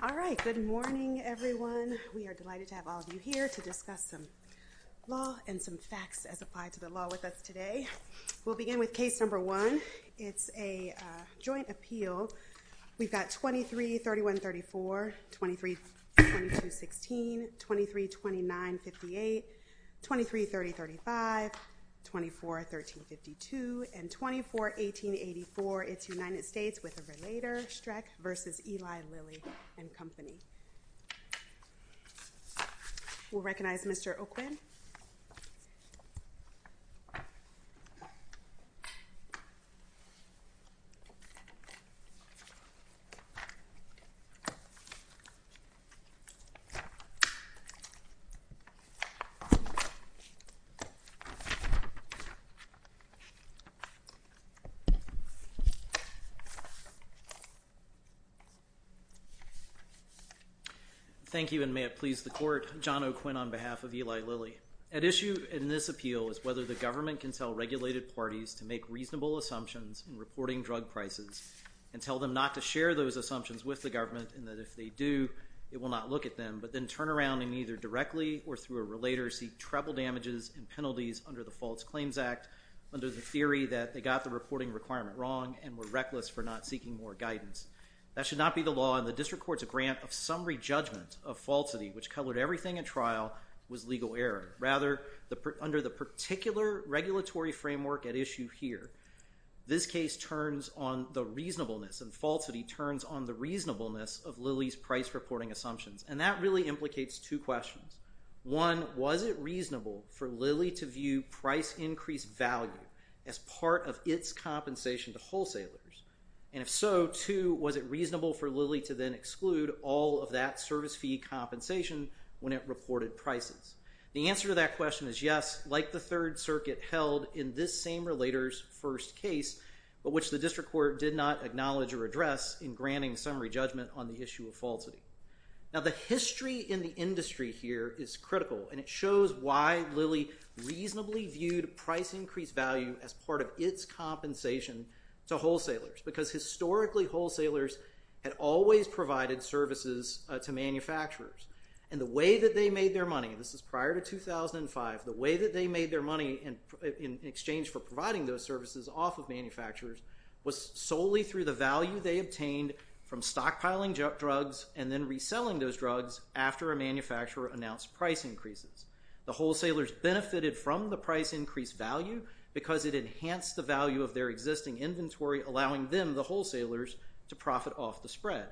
All right, good morning everyone. We are delighted to have all of you here to discuss some law and some facts as applied to the law with us today. We'll begin with case number one. It's a joint appeal. We've got 23-31-34, 23-22-16, 23-29-58, 23-30-35, 24-13-52, and 24-18-84. It's United States with a versus Eli Lilly and Company. We'll recognize Mr. Oakwood. Thank you and may it please the court. John O'Quinn on behalf of Eli Lilly. At issue in this appeal is whether the government can tell regulated parties to make reasonable assumptions in reporting drug prices and tell them not to share those assumptions with the government and that if they do, it will not look at them, but then turn around and either directly or through a relator seek treble damages and penalties under the False Claims Act under the theory that they got the reporting requirement wrong and were reckless for not seeking more guidance. That should not be the law and the district court's grant of summary judgment of falsity, which covered everything in trial, was legal error. Rather, under the particular regulatory framework at issue here, this case turns on the reasonableness and falsity turns on the reasonableness of Lilly's price reporting assumptions. And that really implicates two questions. One, was it reasonable for Lilly to view price increased value as part of its compensation to wholesalers? And if so, two, was it reasonable for Lilly to then exclude all of that service fee compensation when it reported prices? The answer to that question is yes, like the Third Circuit held in this same relator's first case, but which the district court did not acknowledge or address in granting summary judgment on the issue of falsity. Now, the history in the industry here is critical and it shows why Lilly reasonably viewed price increased value as part of its compensation to wholesalers. Because historically, wholesalers had always provided services to manufacturers. And the way that they made their money, and this is prior to 2005, the way that they made their money in exchange for providing those services off of manufacturers was solely through the value they obtained from stockpiling drugs and then reselling those drugs after a manufacturer announced price increases. The wholesalers benefited from the price increased value because it enhanced the value of their existing inventory, allowing them, the wholesalers, to profit off the spread.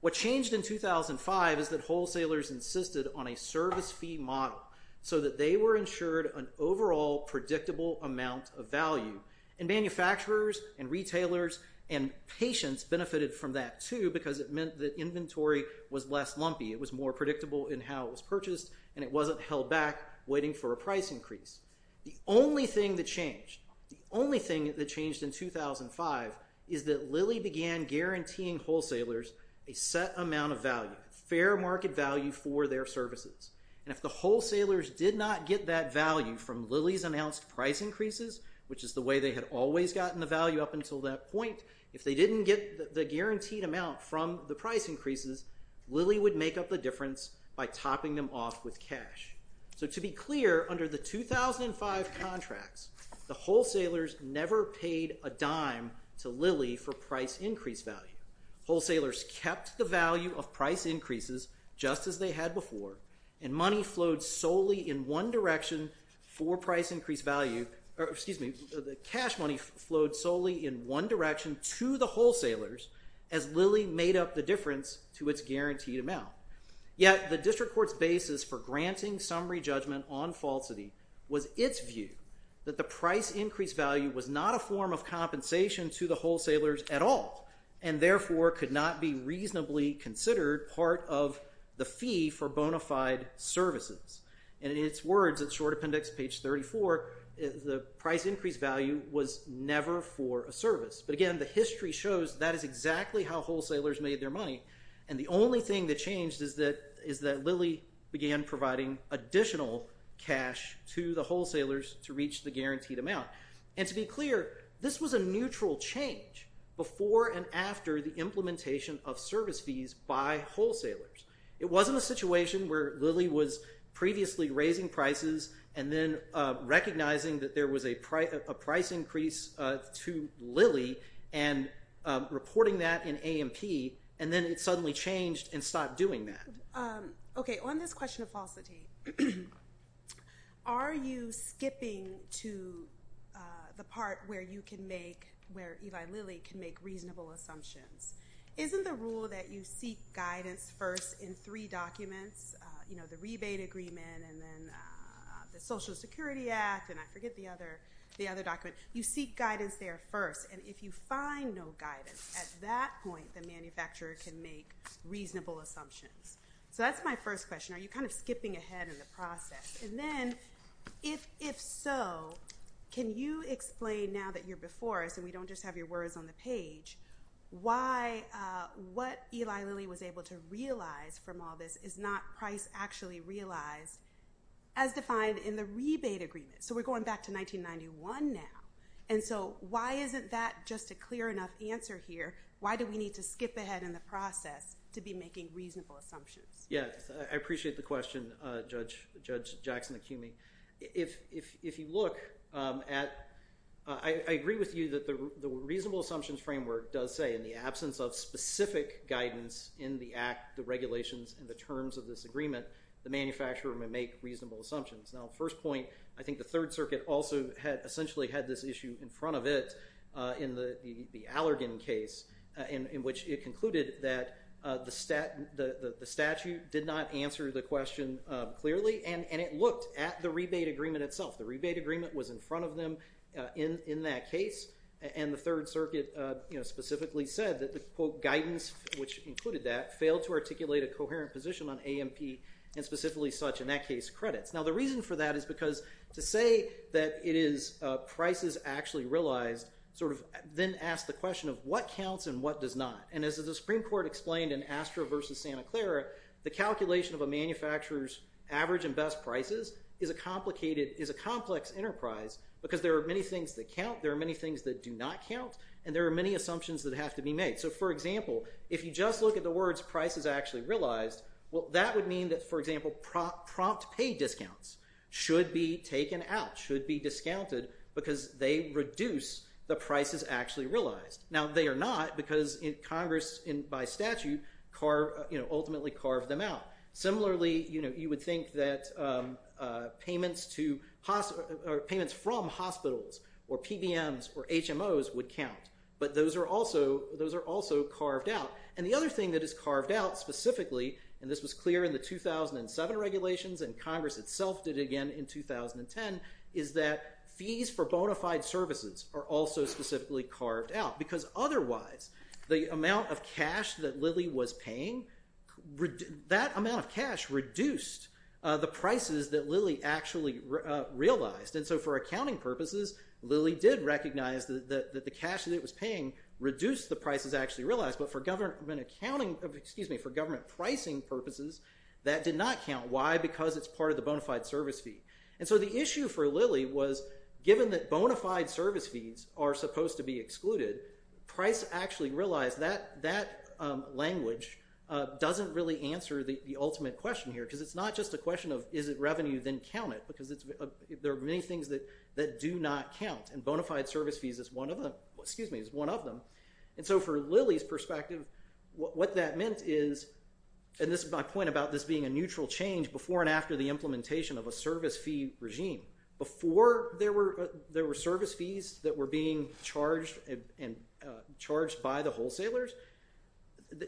What changed in 2005 is that wholesalers insisted on a service fee model so that they were insured an overall predictable amount of value. And manufacturers and retailers and patients benefited from that, too, because it meant that inventory was less lumpy. It was more predictable in how it was purchased and it wasn't held back waiting for a price increase. The only thing that changed, the only thing that changed in 2005 is that Lilly began guaranteeing wholesalers a set amount of value, fair market value for their services. And if the wholesalers did not get that value from Lilly's announced price increases, which is the way they had always gotten the value up until that point, if they didn't get the guaranteed amount from the price increases, Lilly would make up the difference by topping them off with cash. So to be clear, under the 2005 contracts, the wholesalers never paid a dime to Lilly for price increased value. Wholesalers kept the value of price increases just as they had before and money flowed solely in one direction to the wholesalers as Lilly made up the difference to its guaranteed amount. Yet, the district court's basis for granting summary judgment on falsity was its view that the price increased value was not a form of compensation to the wholesalers at all and therefore could not be reasonably considered part of the fee for bona fide services. And in its words, its short appendix page 34, the price increased value was never for a service. But again, the history shows that is exactly how wholesalers made their money. And the only thing that changed is that Lilly began providing additional cash to the wholesalers to reach the guaranteed amount. And to be clear, this was a neutral change before and after the implementation of service fees by wholesalers. It wasn't a situation where Lilly was previously raising prices and then recognizing that there was a price increase to Lilly and reporting that in AMP and then it suddenly changed and stopped doing that. Okay. On this question of falsity, are you skipping to the part where you can make, where Eli Lilly can make reasonable assumptions? Isn't the rule that you seek guidance first in three documents, you know, the rebate agreement and then the Social Security Act and I forget the other document. You seek guidance there first. And if you find no guidance, at that point, the manufacturer can make reasonable assumptions. So that's my first question. Are you kind of skipping ahead in the process? And then if so, can you explain now that you're before us and we don't just have your words on the page, why, what Eli Lilly was able to realize from all this is not price actually realized as defined in the rebate agreement? So we're going back to 1991 now. And so why isn't that just a clear enough answer here? Why do we need to skip ahead in the process to be making reasonable assumptions? Yes. I appreciate the question, Judge Jackson-Akumi. If you look at, I agree with you that the Act, the regulations and the terms of this agreement, the manufacturer may make reasonable assumptions. Now, first point, I think the Third Circuit also had essentially had this issue in front of it in the Allergan case in which it concluded that the statute did not answer the question clearly. And it looked at the rebate agreement itself. The rebate agreement was in front of them in that case. And the Third Circuit, you know, specifically said that the, quote, guidance, which included that, failed to articulate a coherent position on AMP and specifically such in that case credits. Now, the reason for that is because to say that it is prices actually realized sort of then asks the question of what counts and what does not. And as the Supreme Court explained in Astra versus Santa Clara, the calculation of a manufacturer's average and best prices is a complicated, is a complex enterprise because there are many things that count. There are many things that do not count. And there are many assumptions that have to be made. So, for example, if you just look at the words prices actually realized, well, that would mean that, for example, prompt pay discounts should be taken out, should be discounted because they reduce the prices actually realized. Now, they are not because Congress, by statute, ultimately carved them out. Similarly, you know, you would think that payments from hospitals or PBMs or HMOs would count. But those are also, those are also carved out. And the other thing that is carved out specifically, and this was clear in the 2007 regulations and Congress itself did again in 2010, is that fees for bona fide services are also specifically carved out because otherwise the amount of cash that Lilly was paying, that amount of cash reduced the prices that Lilly actually realized. And so, for accounting purposes, Lilly did recognize that the cash that it was paying reduced the prices actually realized. But for government accounting, excuse me, for government pricing purposes, that did not count. Why? Because it's part of the bona fide service fee. And so the issue for Lilly was given that bona fide service fees are supposed to be excluded, price actually realized that language doesn't really answer the ultimate question here because it's not just a question of is it revenue then count it because there are many things that do not count. And bona fide service fees is one of them, excuse me, is one of them. And so for Lilly's perspective, what that meant is, and this is my point about this being a neutral change before and after the implementation of a service fee regime. Before there were service fees that were being charged by the wholesalers,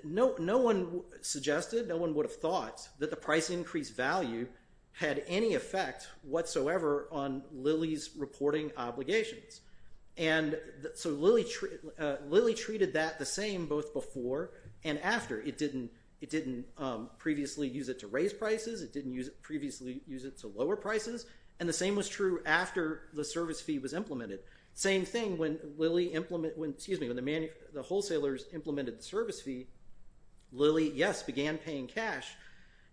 no one suggested, no one would have thought that the price increase value had any effect whatsoever on Lilly's reporting obligations. And so Lilly treated that the same both before and after. It didn't previously use it to raise prices. It didn't previously use it to lower prices. And the same was true after the service fee was implemented. Same thing when Lilly implemented, excuse me, when the wholesalers implemented the service fee, Lilly, yes, began paying cash.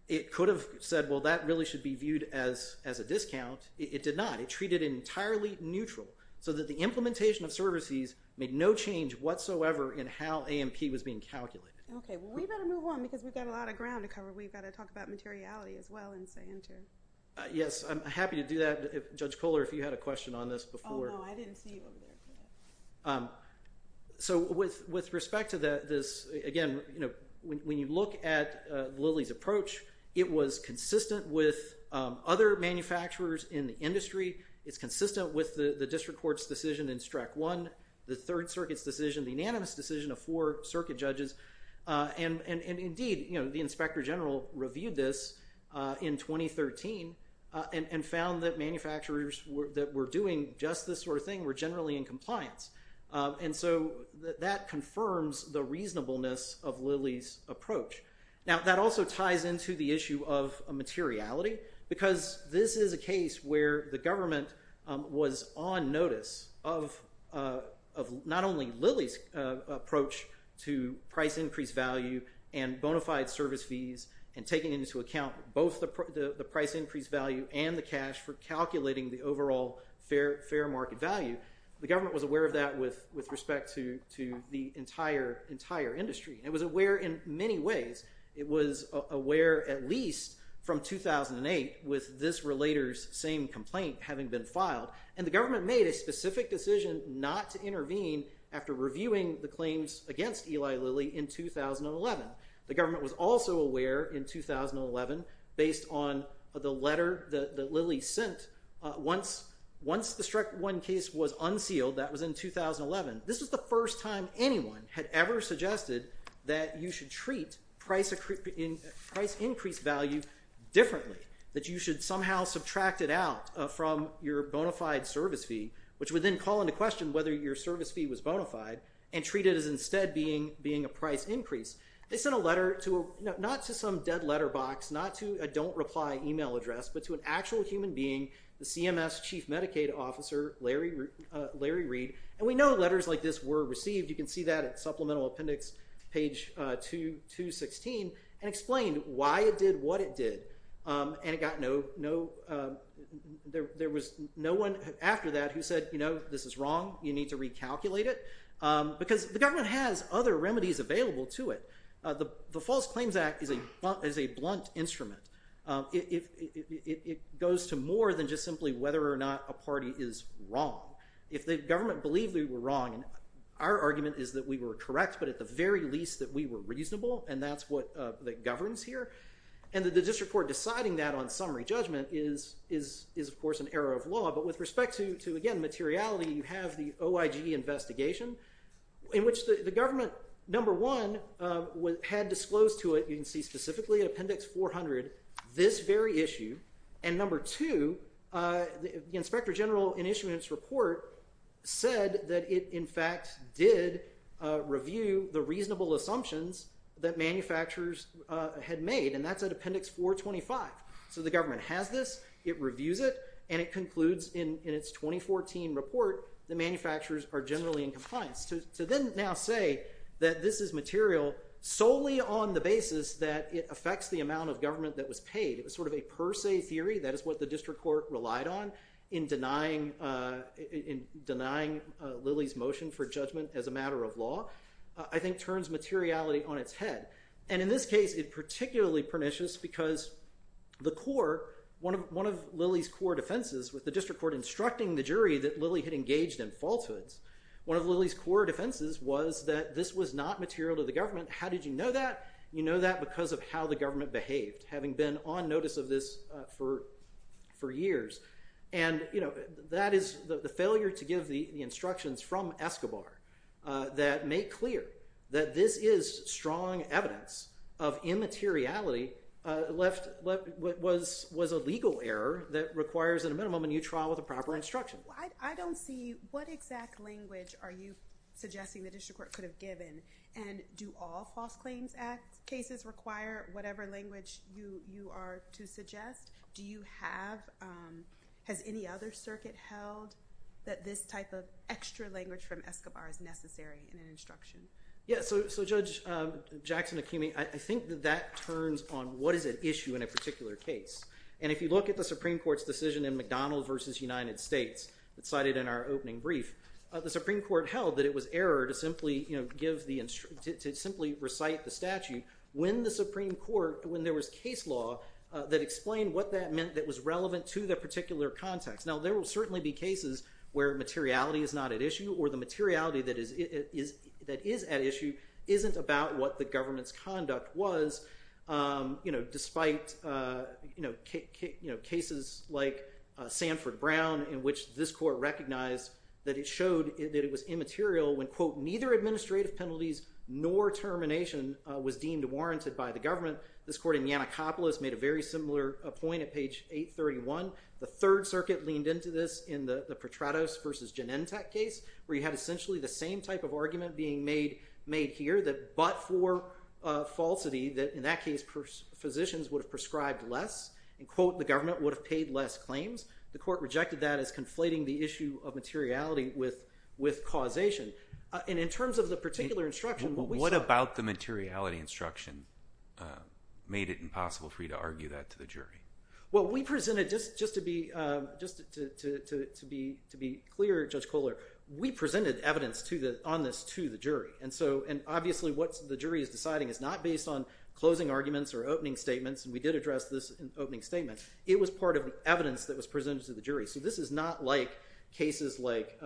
It could have said, well, that really should be viewed as a discount. It did not. It treated it entirely neutral so that the implementation of service fees made no change whatsoever in how AMP was being calculated. Okay. Well, we've got to move on because we've got a lot of ground to cover. We've got to talk about materiality as well and stay in tune. Yes. I'm happy to do that. Judge Kohler, if you had a question on this before. No, I didn't see you over there. So with respect to this, again, when you look at Lilly's approach, it was consistent with other manufacturers in the industry. It's consistent with the district court's decision in Strat 1, the Third Circuit's decision, the unanimous decision of four circuit judges. And indeed, the inspector general reviewed this in 2013 and found that manufacturers that were doing just this sort of thing were generally in compliance. And so that confirms the reasonableness of Lilly's approach. Now, that also ties into the issue of materiality because this is a case where the government was on notice of not only Lilly's approach to price increase value and bona fide service fees and taking into account both the price increase value and the cash for calculating the overall fair market value. The government was aware of that with respect to the entire industry. It was aware in many ways. It was aware at least from 2008 with this relator's same complaint having been filed. And the government made a specific decision not to intervene after reviewing the claims against Eli Lilly in 2011. The government was also aware in 2011 based on the letter that Lilly sent. Once the Strat 1 case was unsealed, that was in 2011, this was the first time anyone had ever suggested that you should treat price increase value differently, that you should somehow subtract it out from your bona fide service fee, which would then call into question whether your service fee was bona fide and treat it as instead being a price increase. They sent a letter not to some dead letter box, not to a don't reply email address, but to an actual human being, the CMS Chief Medicaid Officer Larry Reed. And we know letters like this were received. You can see that at Supplemental Appendix page 216 and explained why it did what it did. And there was no one after that who said, you know, this is wrong. You need to recalculate it. Because the government has other remedies available to it. The False Claims Act is a blunt instrument. It goes to more than just simply whether or not a party is wrong. If the government believed we were wrong, our argument is that we were correct, but at the very least that we were reasonable, and that's what governs here. And the district court deciding that on summary judgment is, of course, an error of law. But with respect to, again, materiality, you have the OIG investigation in which the government, number one, had disclosed to it, you can see specifically Appendix 400, this very issue. And number two, the Inspector General in issuing its report said that it, in fact, did review the reasonable assumptions that manufacturers had made, and that's at Appendix 425. So the government has this, it reviews it, and it concludes in its 2014 report that manufacturers are generally in compliance. To then now say that this is material solely on the basis that it affects the amount of government that was paid, it was sort of a per se theory, that is what the district court relied on in denying Lilly's motion for judgment as a matter of law, I think turns materiality on its head. And in this case, it's particularly pernicious because the court, one of Lilly's court offenses with the district court instructing the jury that Lilly had engaged in falsehoods, one of Lilly's court offenses was that this was not material to the government. How did you know that? You know that because of how the government behaved, having been on notice of this for years. And that is the failure to give the instructions from Escobar that make clear that this is strong evidence of immateriality was a legal error that requires at a minimum a new trial with a proper instruction. I don't see, what exact language are you suggesting the district court could have given? And do all false claims cases require whatever language you are to suggest? Do you have, has any other circuit held that this type of extra language from Escobar is necessary in an instruction? Yeah, so Judge Jackson-Akumi, I think that that turns on what is at issue in a particular case. And if you look at the Supreme Court's decision in McDonald v. United States, cited in our opening brief, the Supreme Court held that it was error to simply recite the statute when the Supreme Court, when there was case law that explained what that meant that was relevant to the particular context. Now there will certainly be cases where materiality is not at issue or the materiality that is at issue isn't about what the government's conduct was, despite cases like Sanford Brown in which this court recognized that it showed that it was immaterial when, quote, neither administrative penalties nor termination was deemed warranted by the government. This court in Yannakopoulos made a very similar point at page 831. The Third Circuit leaned into this in the Petratos v. Genentech case, where you had essentially the same type of argument being made here, that but for falsity, that in that case, physicians would have prescribed less, and quote, the government would have paid less claims. The court rejected that as conflating the issue of materiality with causation. And in terms of the particular instruction, what we saw- What about the materiality instruction made it impossible for you to argue that to the jury? Well, we presented, just to be clear, Judge Kohler, we presented evidence on this to the jury. And obviously what the jury is deciding is not based on closing arguments or opening statements, and we did address this in the opening statement. It was part of the evidence that was presented to the jury. So this is not like cases like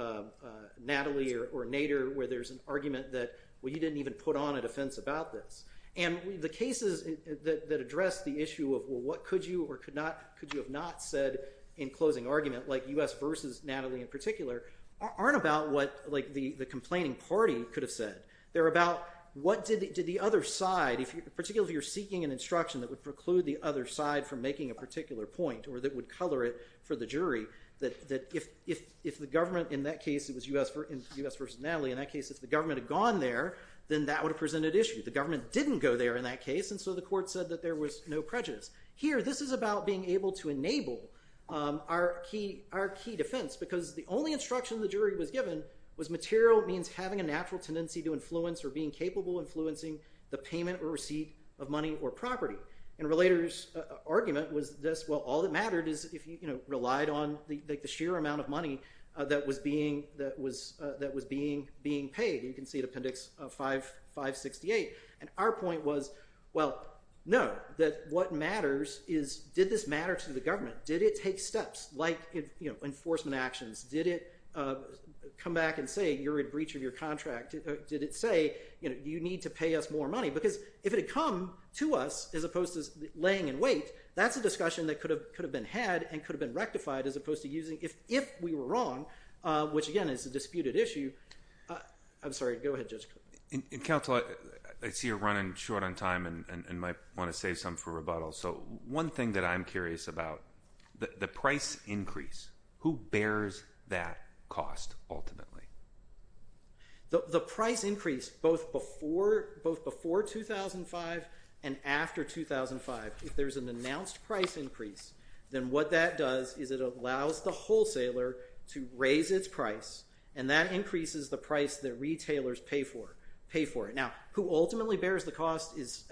Natalie or Nader where there's an argument that, well, you didn't even put on a defense about this. And the cases that address the issue of, well, what could you or could you have not said in closing argument, like U.S. v. Natalie in particular, aren't about what the complaining party could have said. They're about what did the other side, particularly if you're seeking an instruction that would preclude the other side from making a particular point, or that would color it for the jury, that if the government in that case, it was U.S. v. Natalie, in that case if the government had gone there, then that would have presented issue. The government didn't go there in that case, and so the court said that there was no prejudice. Here, this is about being able to enable our key defense, because the only instruction the jury was given was material means having a natural tendency to influence or being capable of influencing the payment or receipt of money or property. And Relator's argument was this, well, all that mattered is if you relied on the sheer amount of money that was being paid. You can see it in Appendix 568. And our point was, well, no, that what matters is did this matter to the government? Did it take steps like enforcement actions? Did it come back and say you're in breach of your contract? Did it say you need to pay us more money? Because if it had come to us as opposed to laying in wait, that's a discussion that could have been had and could have been rectified as opposed to using if we were wrong, which again is a disputed issue. I'm sorry. Go ahead, Judge. In counsel, I see you're running short on time and might want to save some for rebuttal. So one thing that I'm curious about, the price increase, who bears that cost ultimately? The price increase both before 2005 and after 2005, if there's an announced price increase, then what that does is it allows the wholesaler to raise its price and that increases the price that retailers pay for it. Now, who ultimately bears the cost is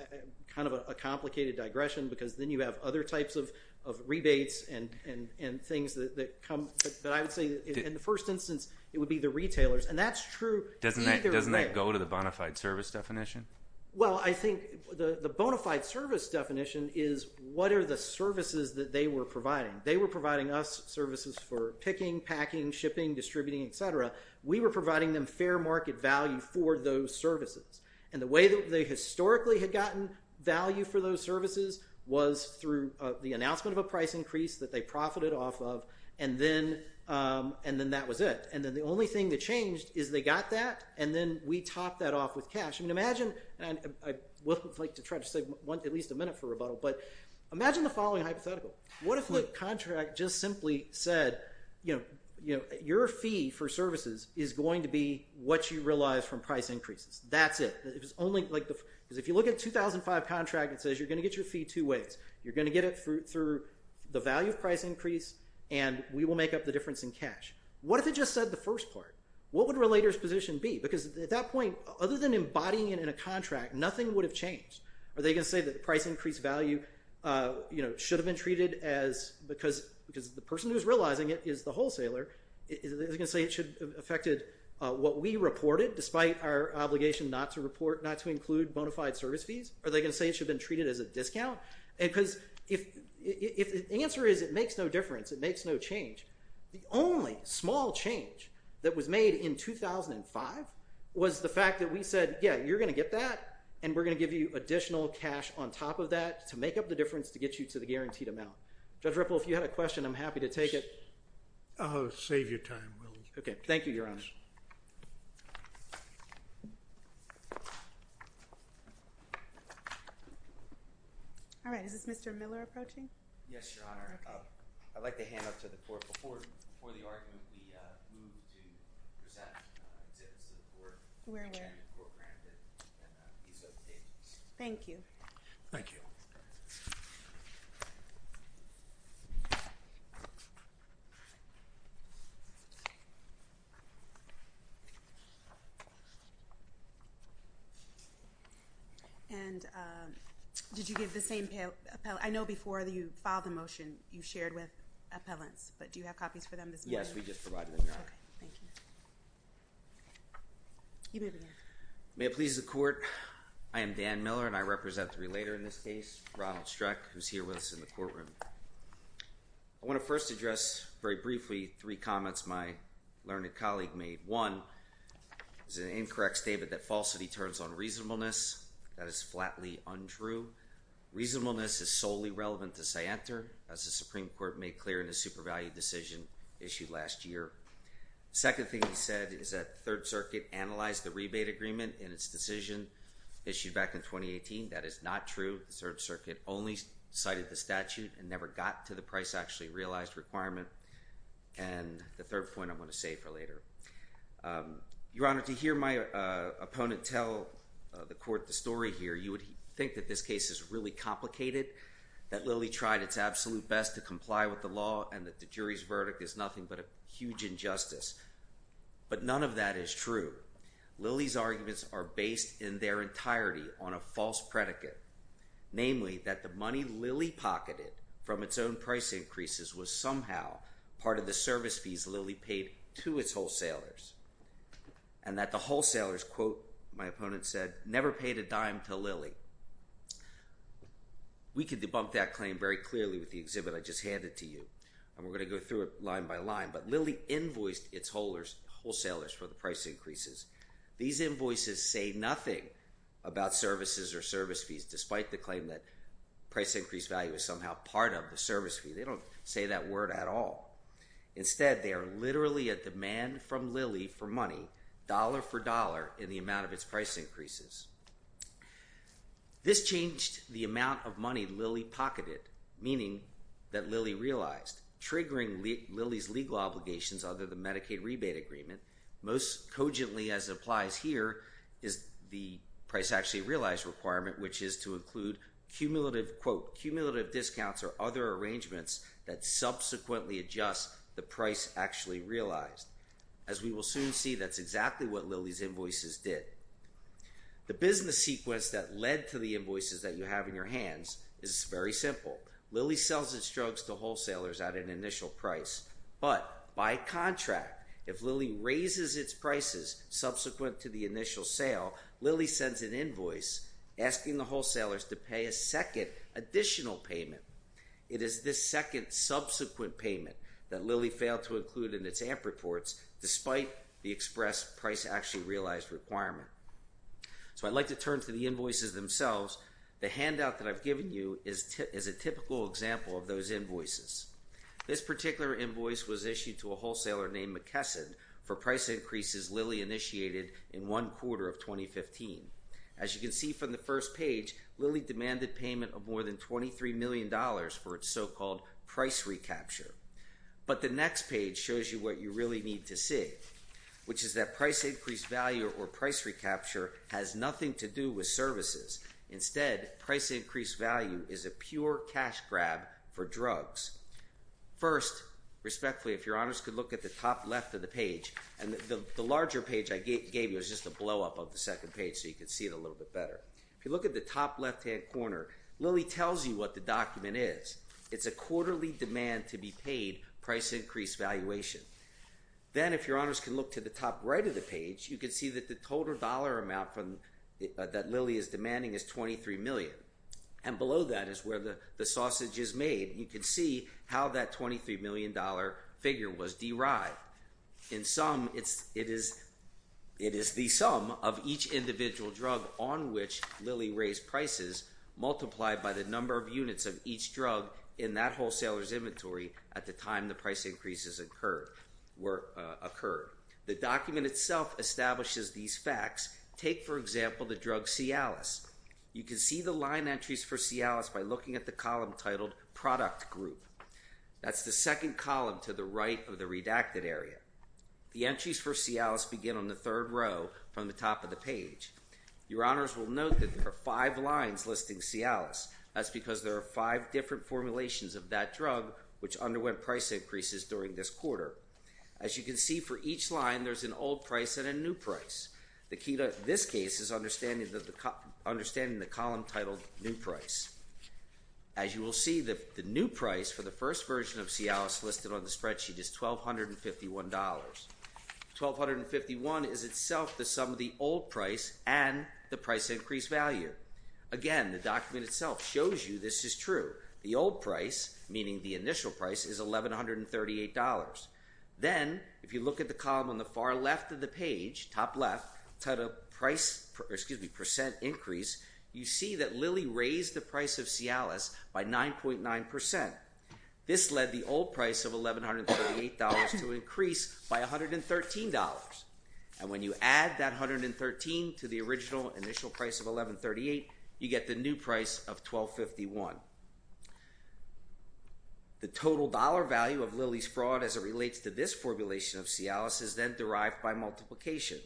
kind of a complicated digression because then you have other types of rebates and things that come. But I would say in the first instance, it would be the retailers. And that's true either way. Doesn't that go to the bona fide service definition? Well, I think the bona fide service definition is what are the services that they were providing. They were providing us services for picking, packing, shipping, distributing, et cetera. We were providing them fair market value for those services. And the way that they historically had gotten value for those services was through the announcement of a price increase that they profited off of and then that was it. And then the only thing that changed is they got that and then we topped that off with cash. I would like to try to save at least a minute for rebuttal, but imagine the following hypothetical. What if the contract just simply said your fee for services is going to be what you realize from price increases. That's it. Because if you look at 2005 contract, it says you're going to get your fee two ways. You're going to get it through the value of price increase and we will make up the difference in cash. What if it just said the first part? What would relator's position be? Because at that point, other than embodying it in a contract, nothing would have changed. Are they going to say that the price increase value should have been treated as, because the person who's realizing it is the wholesaler, is it going to say it should have affected what we reported despite our obligation not to report, not to include bona fide service fees? Are they going to say it should have been treated as a discount? Because if the answer is it makes no difference, it makes no change, the only small change that was made in 2005 was the fact that we said, yeah, you're going to get that and we're going to give you additional cash on top of that to make up the difference to get you to the guaranteed amount. Judge Ripple, if you had a question, I'm happy to take it. I'll save you time. Okay. Thank you, Your Honor. All right. Is this Mr. Miller approaching? Yes, Your Honor. I'd like to hand up to the I know before you filed the motion, you shared with appellants, but do you have comments or copies for them this morning? Yes, we just provided them, Your Honor. Okay. Thank you. You may begin. May it please the court, I am Dan Miller and I represent the relator in this case, Ronald Streck, who's here with us in the courtroom. I want to first address very briefly three comments my learned colleague made. One, it's an incorrect statement that falsity turns on reasonableness. That is flatly untrue. Reasonableness is solely relevant to Scienter, as the Supreme Court made clear in the super value decision issued last year. Second thing he said is that the Third Circuit analyzed the rebate agreement in its decision issued back in 2018. That is not true. The Third Circuit only cited the statute and never got to the price actually realized requirement. And the third point I want to save for later. Your Honor, to hear my opponent tell the court the story here, you would think that this case is really complicated, that Lilly tried its absolute best to comply with the law and that the jury's verdict is nothing but a huge injustice. But none of that is true. Lilly's arguments are based in their entirety on a false predicate. Namely, that the money Lilly pocketed from its own price increases was somehow part of the service fees Lilly paid to its wholesalers. And that the wholesalers quote, my opponent said, never paid a dime to Lilly. We can debunk that claim very clearly with the exhibit I just handed to you. And we're going to go through it line by line. But Lilly invoiced its wholesalers for the price increases. These invoices say nothing about services or service fees, despite the claim that price increase value is somehow part of the service fee. They don't say that word at all. Instead, they are literally a demand from Lilly for money, dollar for dollar, in the amount of its price increases. This changed the amount of money Lilly pocketed, meaning that Lilly realized. Triggering Lilly's legal obligations under the Medicaid rebate agreement, most cogently as applies here, is the price actually realized requirement, which is to include cumulative quote, cumulative discounts or other arrangements that subsequently adjust the price actually realized. As we will soon see, that's exactly what Lilly's invoices did. The business sequence that led to the invoices that you have in your hands is very simple. Lilly sells its drugs to wholesalers at an initial price, but by contract, if Lilly raises its prices subsequent to the initial sale, Lilly sends an invoice asking the wholesalers to pay a second additional payment. It is this second subsequent payment that Lilly failed to include in its AMP reports, despite the express price actually realized requirement. So I'd like to turn to the invoices themselves. The handout that I've given you is a typical example of those invoices. This particular invoice was issued to a wholesaler named McKesson for price increases Lilly initiated in one quarter of 2015. As you can see from the first page, Lilly demanded payment of more than $23 million for its so-called price recapture. But the next page shows you what you really need to see, which is that price increased value or price recapture has nothing to do with services. Instead, price increased value is a pure cash grab for drugs. First, respectfully, if your honors could look at the top left of the page, and the larger page I gave you is just a blow-up of the second page so you can see it a little bit better. If you look at the top left-hand corner, Lilly tells you what the document is. It's a quarterly demand-to-be-paid price increased valuation. Then if your honors can look to the top right of the page, you can see that the total dollar amount that Lilly is demanding is $23 million. And below that is where the sausage is made. You can see how that $23 million figure was derived. In sum, it is the sum of each individual drug on which Lilly raised prices multiplied by the number of units of each drug in that wholesaler's inventory at the time the price increases occurred. The document itself establishes these facts. Take, for example, the drug Cialis. You can see the line entries for Cialis by looking at the column titled Product Group. That's the second column to the right of the Your honors will note that there are five lines listing Cialis. That's because there are five different formulations of that drug which underwent price increases during this quarter. As you can see for each line, there's an old price and a new price. The key to this case is understanding the column titled New Price. As you will see, the new price for the first version of Cialis listed on the spreadsheet is $1,251. $1,251 is itself the sum of the old price and the price increase value. Again, the document itself shows you this is true. The old price, meaning the initial price, is $1,138. Then, if you look at the column on the far left of the page, top left, titled Percent Increase, you see that Lilly raised the price of Cialis by 9.9%. This led the old price of $1,138 to increase by $113. And when you add that $113 to the original initial price of $1,138, you get the new price of $1,251. The total dollar value of Lilly's fraud as it relates to this formulation of Cialis is then derived by multiplication.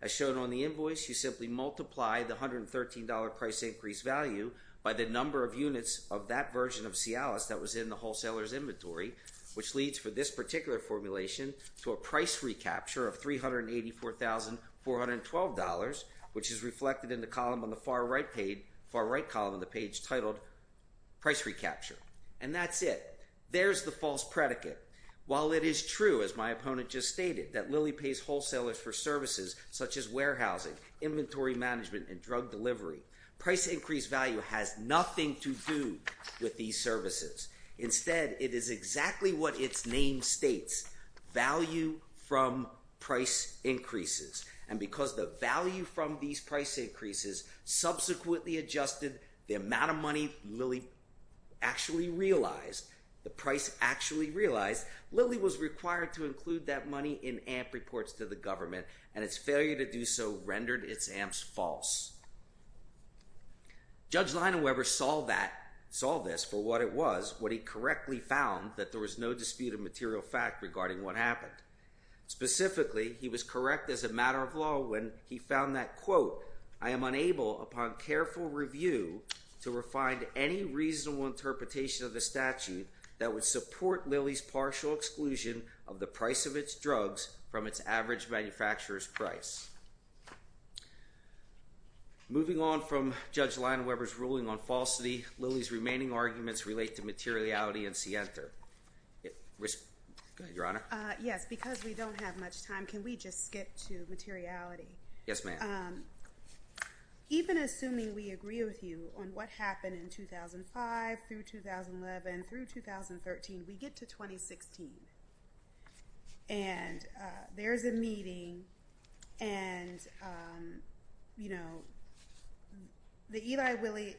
As shown on the invoice, you simply multiply the $113 price increase value by the number of units of that version of Cialis that was in the wholesaler's inventory, which leads for this particular formulation to a price recapture of $384,412, which is reflected in the column on the far right page, far right column of the page, titled Price Recapture. And that's it. There's the false predicate. While it is true, as my opponent just stated, that Lilly pays wholesalers for services such as warehousing, inventory management, and drug delivery, price increase value has nothing to do with these services. Instead, it is exactly what its name states, value from price increases. And because the value from these price increases subsequently adjusted, the amount of money Lilly actually realized, the price actually realized, Lilly was required to include that money in AMP reports to the government, and its failure to do so rendered its AMPs false. Judge Leinweber saw that, saw this for what it was, what he correctly found, that there was no dispute of material fact regarding what happened. Specifically, he was correct as a matter of law when he found that, quote, I am unable upon careful review to find any reasonable interpretation of the statute that would support Lilly's partial exclusion of the price of its drugs from its average manufacturer's price. Moving on from Judge Leinweber's ruling on falsity, Lilly's remaining arguments relate to materiality and scienter. Go ahead, Your Honor. Yes, because we don't have much time, can we just skip to materiality? Yes, ma'am. Even assuming we agree with you on what happened in 2005 through 2011 through 2013, we get to 2016. And there's a meeting and, you know, the Eli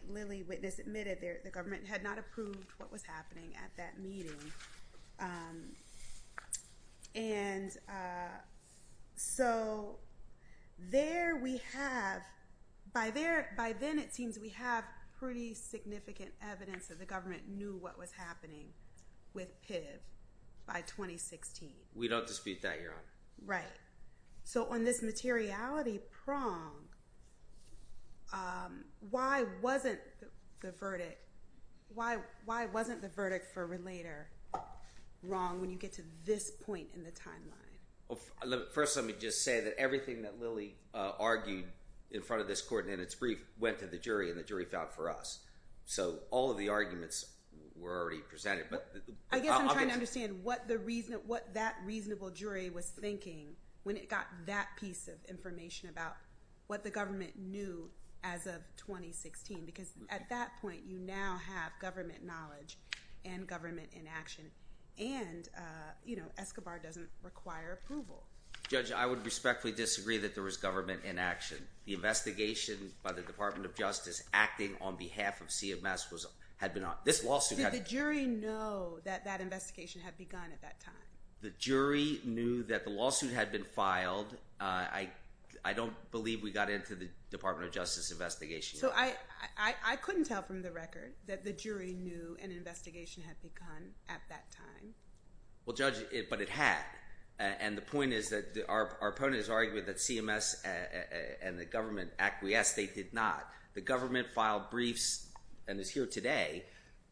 Lilly witness admitted the government had not approved what was happening at that meeting. And so there we have, by then it seems we have pretty significant evidence that the government knew what was happening with PIV by 2016. We don't dispute that, Your Honor. Right. So on this materiality prong, why wasn't the verdict for relator wrong when you get to this point in the timeline? First, let me just say that everything that Lilly argued in front of this court in its brief went to the jury and the jury found for us. So all of the arguments were already presented. I guess I'm trying to understand what that reasonable jury was thinking when it got that piece of information about what the government knew as of 2016. Because at that point, you now have government knowledge and government inaction. And, you know, Escobar doesn't require approval. Judge, I would respectfully disagree that there was government inaction. The investigation by the Department of Justice acting on behalf of CMS was, had been on this lawsuit. Did the jury know that that investigation had begun at that time? The jury knew that the lawsuit had been filed. Uh, I, I don't believe we got into the Department of Justice investigation. So I, I, I couldn't tell from the record that the jury knew an investigation had begun at that time. Well judge it, but it had. And the point is that our opponent is arguing that CMS and the government acquiesced. They did not. The government filed briefs and is here today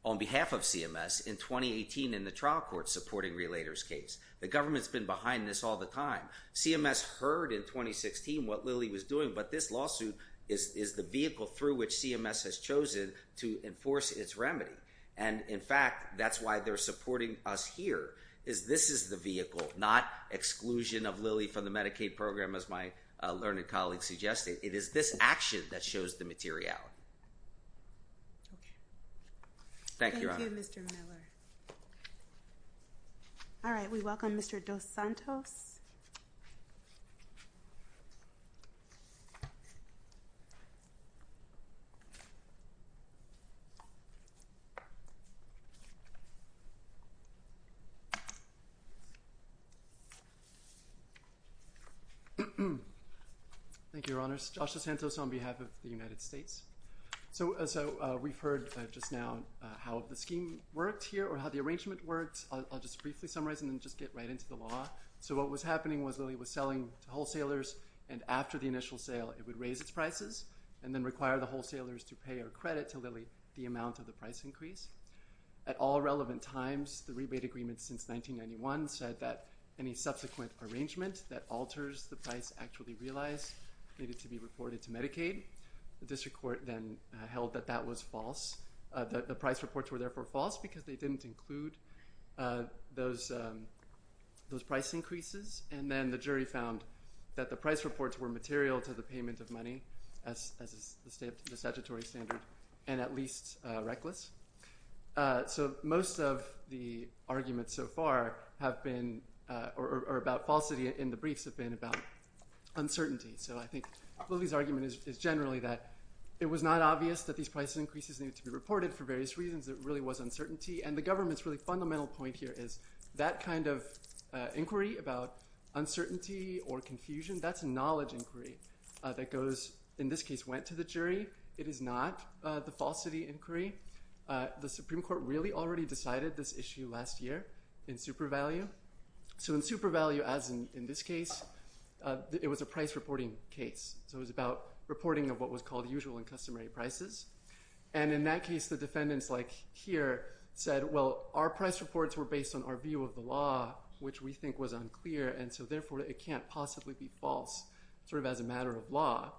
on behalf of CMS in 2018 in the trial court supporting relators case. The government's been behind this all the time. CMS heard in 2016 what Lilly was doing, but this lawsuit is, is the vehicle through which CMS has chosen to enforce its remedy. And in fact, that's why they're supporting us here is this is the vehicle, not exclusion of Lilly from the Medicaid program as my learned colleague suggested. It is this action that shows the materiality. Okay. Thank you. Thank you Mr. Miller. All right. We welcome Mr. Dos Santos. Thank you, Your Honors. Joshua Santos on behalf of the United States. So, so we've heard just now how the scheme worked here or how the arrangement works. I'll just briefly summarize and then just get right into the law. So what was happening was Lilly was selling to wholesalers and after the initial sale, it would raise its prices and then require the wholesalers to pay or credit to Lilly the amount of the price increase. At all relevant times, the rebate agreement since 1991 said that any subsequent arrangement that alters the price actually realized needed to be reported to Medicaid. The district court then held that that was false. The price reports were therefore false because they didn't include those price increases and then the jury found that the price reports were material to the payment of money as the statutory standard and at least reckless. So most of the arguments so far have been or about falsity in the briefs have been about uncertainty. So I think Lilly's argument is generally that it was not obvious that these price increases needed to be reported for various reasons. It really was uncertainty and the government's really fundamental point here is that kind of inquiry about uncertainty or confusion, that's knowledge inquiry that goes, in this case, went to the jury. It is not the falsity inquiry. The Supreme Court really already decided this issue last year in super value. So in super value, as in this case, it was a price reporting case. So it was about reporting of what was called usual and customary prices. And in that case, the defendants like here said, well, our price reports were based on our view of the law, which we think was unclear. And so therefore it can't possibly be false sort of as a matter of law.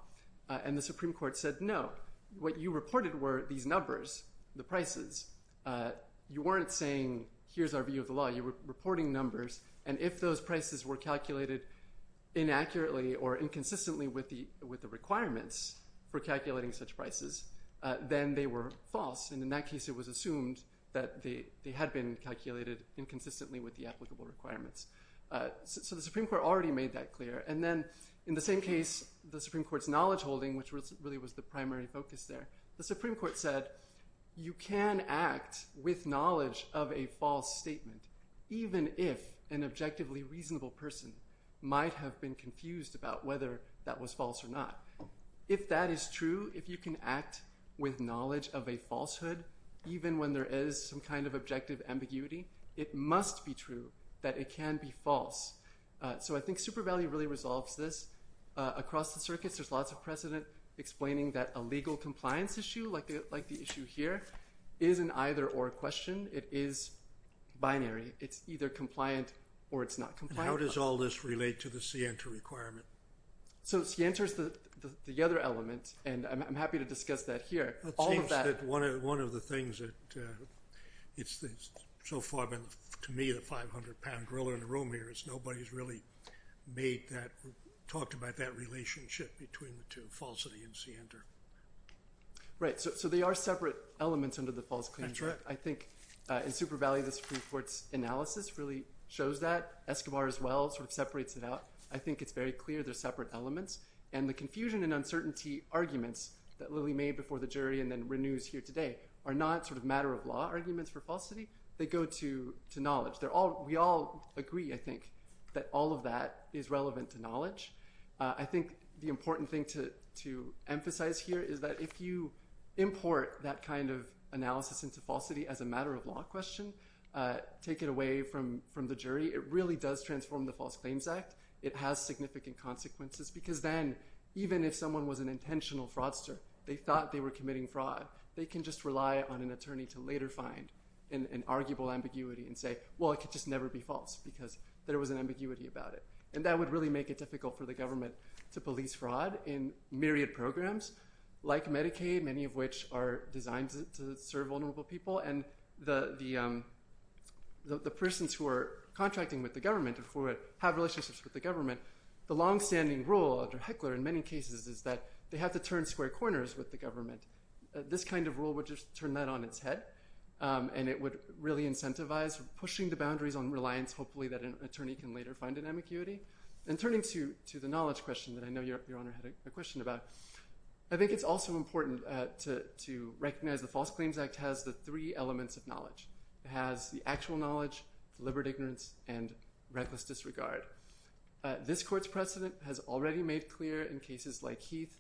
And the Supreme Court said, no, what you reported were these numbers, the prices, you weren't saying, here's our view of the law, you were reporting numbers. And if those prices were calculated inaccurately or inconsistently with the, the requirements for calculating such prices, then they were false. And in that case, it was assumed that they had been calculated inconsistently with the applicable requirements. So the Supreme Court already made that clear. And then in the same case, the Supreme Court's knowledge holding, which really was the primary focus there, the Supreme Court said, you can act with knowledge of a false statement, even if an objectively reasonable person might have been confused about whether that was false or not. If that is true, if you can act with knowledge of a falsehood, even when there is some kind of objective ambiguity, it must be true that it can be false. So I think Super Value really resolves this across the circuits. There's lots of precedent explaining that a legal compliance issue like, like the issue here is an either or question. It is binary. It's either compliant or it's not compliant. How does all this relate to the Sienta requirement? So Sienta is the other element, and I'm happy to discuss that here. It seems that one of the things that, it's so far, to me, the 500 pound griller in the room here is nobody's really made that, talked about that relationship between the two, falsity and Sienta. Right. So, so they are separate elements under the false claims. I think in Super Value, the Supreme Court's analysis really shows that. Escobar, as well, sort of separates it out. I think it's very clear they're separate elements. And the confusion and uncertainty arguments that Lily made before the jury and then renews here today are not sort of matter of law arguments for falsity. They go to, to knowledge. They're all, we all agree, I think that all of that is relevant to knowledge. I think the important thing to, to emphasize here is that if you import that kind of analysis into falsity as a matter of law question, take it away from, from the jury, it really does transform the False Claims Act. It has significant consequences because then, even if someone was an intentional fraudster, they thought they were committing fraud, they can just rely on an attorney to later find an, an arguable ambiguity and say, well, it could just never be false because there was an ambiguity about it. And that would really make it difficult for the government to police fraud in myriad of Medicaid programs like Medicaid, many of which are designed to serve vulnerable people. And the, the, um, the, the persons who are contracting with the government and for it have relationships with the government, the longstanding rule under Heckler in many cases is that they have to turn square corners with the government. This kind of rule would just turn that on its head. Um, and it would really incentivize pushing the boundaries on reliance, hopefully that an attorney can later find an ambiguity and turning to, to the knowledge question that I know your, your honor had a question about. I think it's also important to, to recognize the False Claims Act has the three elements of knowledge. It has the actual knowledge, deliberate ignorance, and reckless disregard. Uh, this court's precedent has already made clear in cases like Heath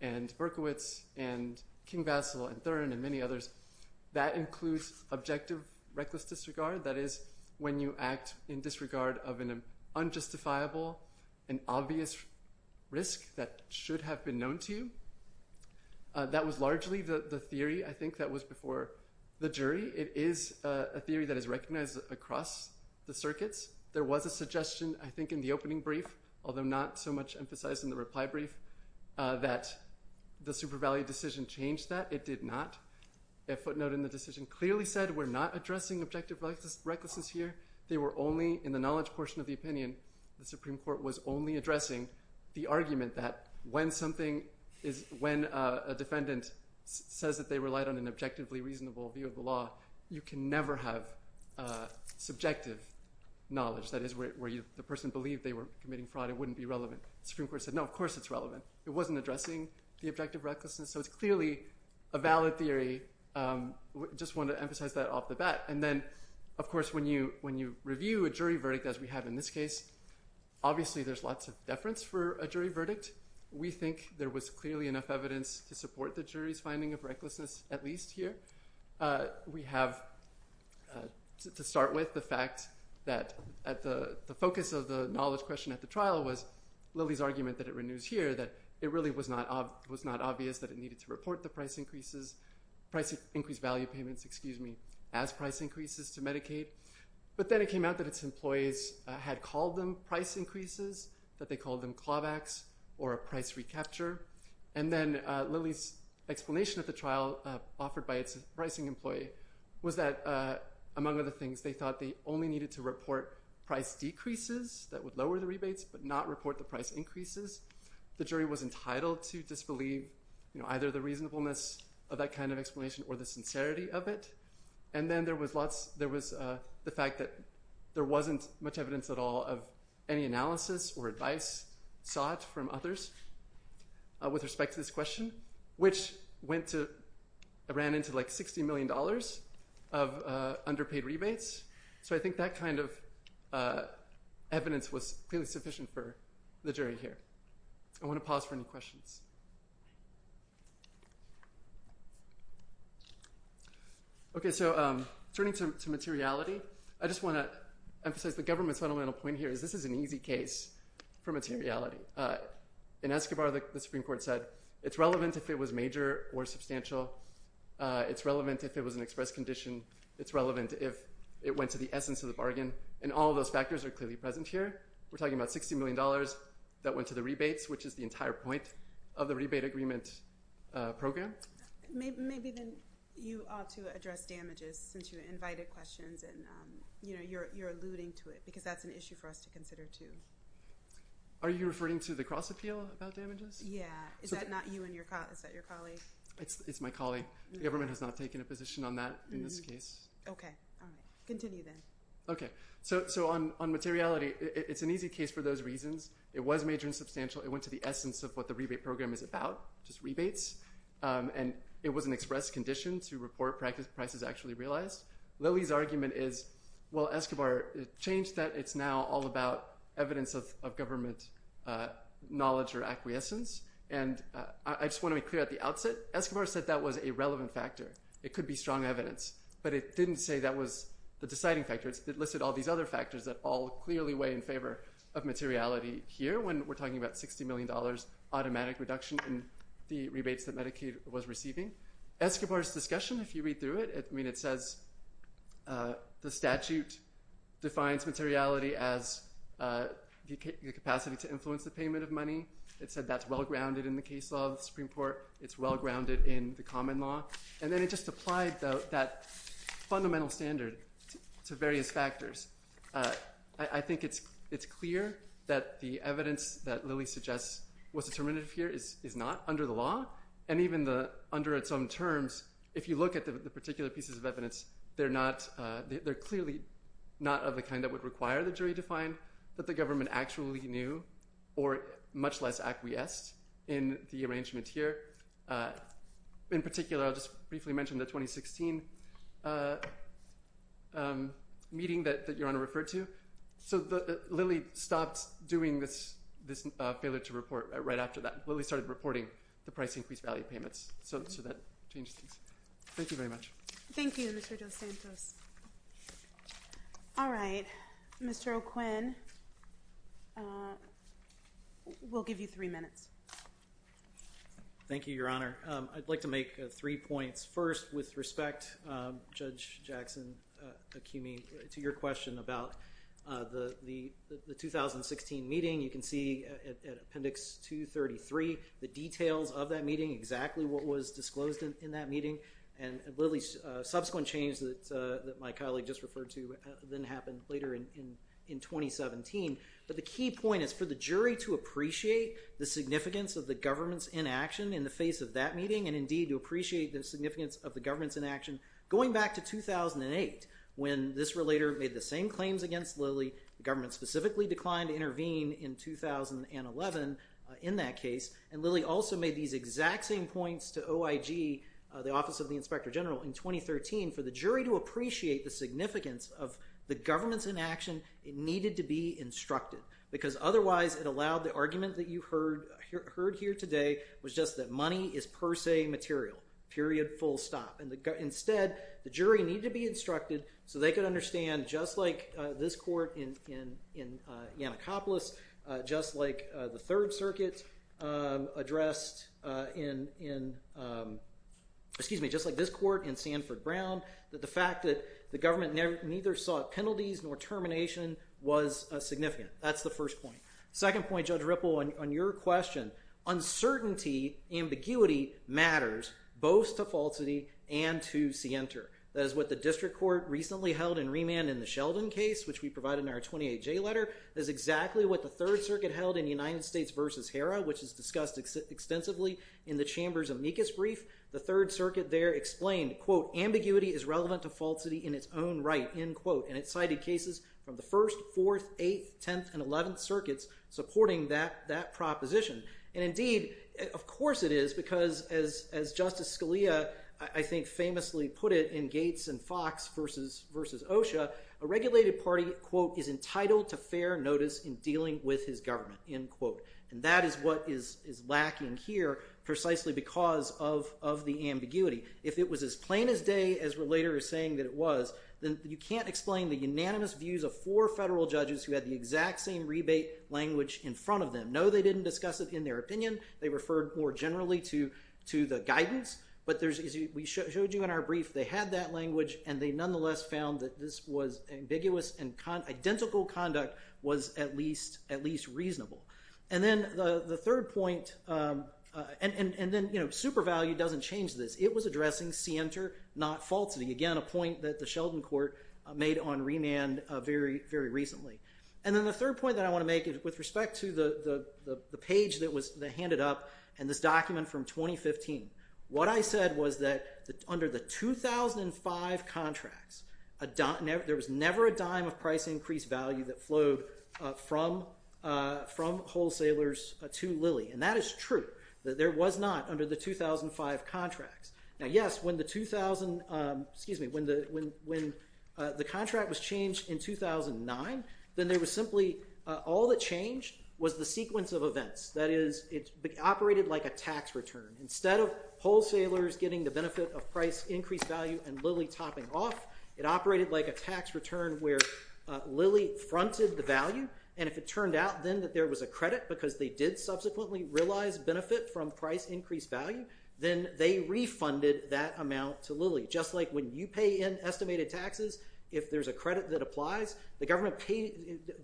and Berkowitz and Kingvassel and Thurman and many others that includes objective reckless disregard. That is when you act in disregard of an unjustifiable and obvious risk that should have been known to you. Uh, that was largely the, the theory. I think that was before the jury. It is a theory that is recognized across the circuits. There was a suggestion, I think in the opening brief, although not so much emphasized in the reply brief, uh, that the super value decision changed that it did not. A footnote in the decision clearly said, we're not addressing objective reckless, recklessness here. They were only in the knowledge portion of the opinion. The Supreme Court was only addressing the argument that when something is, when a defendant says that they relied on an objectively reasonable view of the law, you can never have a subjective knowledge. That is where you, the person believed they were committing fraud. It wouldn't be relevant. Supreme Court said, no, of course it's relevant. It wasn't addressing the objective recklessness. So it's clearly a valid theory. Um, just want to emphasize that off the bat. And then of course when you, when you review a jury verdict, as we have in this case, obviously there's lots of deference for a jury verdict. We think there was clearly enough evidence to support the jury's finding of recklessness. At least here. Uh, we have, uh, to start with the fact that at the, the focus of the knowledge question at the trial was Lily's argument that it renews here that it really was not, uh, it was not obvious that it needed to report the price increases, price increased value payments, excuse me, as price increases to Medicaid. But then it came out that its employees had called them price increases, that they called them clawbacks or a price recapture. And then, uh, Lily's explanation at the trial, uh, offered by its pricing employee was that, uh, among other things, they thought they only needed to report price decreases that would lower the rebates, but not report the price increases. The jury was entitled to disbelieve, you know, either the reasonableness of that kind of explanation or the sincerity of it. And then there was lots, there was, uh, the fact that there wasn't much evidence at all of any analysis or advice sought from others, uh, with respect to this question, which went to, I ran into like $60 million of, uh, underpaid rebates. So I think that kind of, uh, evidence was clearly sufficient for the jury here. I want to pause for any questions. Okay. So, um, turning to materiality, I just want to emphasize the government's fundamental point here is this is an easy case for materiality. Uh, in Escobar, the Supreme Court said it's relevant if it was major or substantial. Uh, it's relevant if it was an express condition, it's relevant if it went to the essence of the bargain. And all of those factors are clearly present here. We're talking about $60 million that went to the rebates, which is the entire point of the rebate agreement, uh, program. Maybe, maybe then you ought to address damages since you invited questions and, um, you know, you're, you're alluding to it because that's an issue for us to consider too. Are you referring to the cross appeal about damages? Yeah. Is that not you and your colleague? Is that your colleague? It's, it's my colleague. The government has not taken a position on that in this case. Okay. All right. Continue then. Okay. So, so on, on materiality, it's an easy case for those reasons. It was major and substantial. It went to the essence of what the rebate program is about, just rebates. Um, and it was an express condition to report practice prices actually realized. Lily's argument is, well, Escobar changed that. It's now all about evidence of, of government, uh, knowledge or acquiescence. And, uh, I just want to make clear at the outset, Escobar said that was a relevant factor. It could be strong evidence, but it didn't say that was the deciding factor. It listed all these other factors that all clearly weigh in favor of materiality here when we're talking about $60 million automatic reduction in the rebates that Medicaid was receiving. Escobar's discussion, if you read through it, I mean, it says, uh, the statute defines materiality as, uh, the capacity to influence the payment of money. It said that's well-grounded in the case law of the Supreme Court. It's well-grounded in the common law. And then it just applied that fundamental standard to various factors. Uh, I think it's, it's clear that the evidence that Lily suggests was determinative here is not under the law. And even the, under its own terms, if you look at the particular pieces of evidence, they're not, uh, they're clearly not of the kind that would require the jury to find that the government actually knew or much less acquiesced in the arrangement here. Uh, in particular, I'll just briefly mention the 2016, uh, um, meeting that, that Your Honor referred to. So the, Lily stopped doing this, this, uh, failure to report right after that. Lily started reporting the price increase value payments. So, so that changed things. Thank you very much. Thank you, Mr. DeSantos. All right, Mr. O'Quinn, uh, we'll give you three minutes. Thank you, Your Honor. Um, I'd like to make three points. First, with respect, um, Judge Jackson, uh, accuse me to your question about, uh, the, the, the 2016 meeting you can see at appendix 233, the details of that meeting, exactly what was disclosed in, in that meeting and Lily's, uh, subsequent change that, uh, that my colleague just referred to, uh, then happened later in, in, in 2017. But the key point is for the jury to appreciate the significance of the government's inaction in the face of that meeting and indeed to appreciate the significance of the government's inaction going back to 2008 when this relator made the same claims against Lily, the government specifically declined to intervene in 2011, uh, in that case. And Lily also made these exact same points to OIG, uh, the Office of the Inspector General in 2013 for the jury to appreciate the significance of the government's inaction, it needed to be instructed because otherwise it allowed the argument that you heard, heard here today was just that money is per se material, period, full stop. And the, instead, the jury needed to be instructed so they could understand just like, uh, this court in, in, in, uh, Yannikopoulos, uh, just like, uh, the Third Circuit, uh, addressed, uh, in, in, um, excuse me, just like this court in Sanford Brown that the fact that the government never, neither sought penalties nor termination was, uh, significant. That's the first point. Second point, Judge Ripple, on, on your question, uncertainty, ambiguity matters both to falsity and to scienter. That is what the District Court recently held in remand in the Sheldon case, which we provided in our 28J letter, is exactly what the Third Circuit held in the United States versus HERA, which is discussed extensively in the Chambers amicus brief. The Third Circuit there explained, quote, ambiguity is relevant to falsity in its own right, end quote. And it cited cases from the First, Fourth, Eighth, Tenth, and Eleventh Circuits supporting that, that proposition. And indeed, of course it is because as, as Justice Scalia, I think famously put it in the title to fair notice in dealing with his government, end quote. And that is what is, is lacking here precisely because of, of the ambiguity. If it was as plain as day as Relator is saying that it was, then you can't explain the unanimous views of four federal judges who had the exact same rebate language in front of them. No, they didn't discuss it in their opinion. They referred more generally to, to the guidance. But there's, as we showed you in our brief, they had that language and they nonetheless found that this was ambiguous and identical conduct was at least, at least reasonable. And then the, the third point and, and, and then, you know, super value doesn't change this. It was addressing scienter, not falsity. Again, a point that the Sheldon Court made on remand very, very recently. And then the third point that I want to make is with respect to the, the, the page that was handed up and this document from 2015, what I said was that under the 2005 contracts, there was never a dime of price increase value that flowed from, from wholesalers to Lilly. And that is true, that there was not under the 2005 contracts. Now yes, when the 2000, excuse me, when the, when, when the contract was changed in 2009, then there was simply, all that changed was the sequence of events. That is, it operated like a tax return. Instead of wholesalers getting the benefit of price increased value and Lilly topping off, it operated like a tax return where Lilly fronted the value. And if it turned out then that there was a credit because they did subsequently realize benefit from price increased value, then they refunded that amount to Lilly. Just like when you pay in estimated taxes, if there's a credit that applies, the government pays,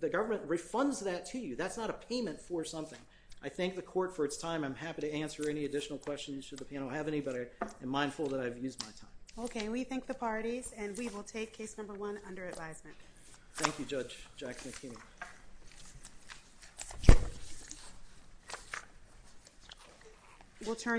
the government refunds that to you. That's not a payment for something. I thank the court for its time. I'm happy to answer any additional questions should the panel have any, but I am mindful that I've used my time. Okay. We thank the parties and we will take case number one under advisement. Thank you, Judge Jack McKinney.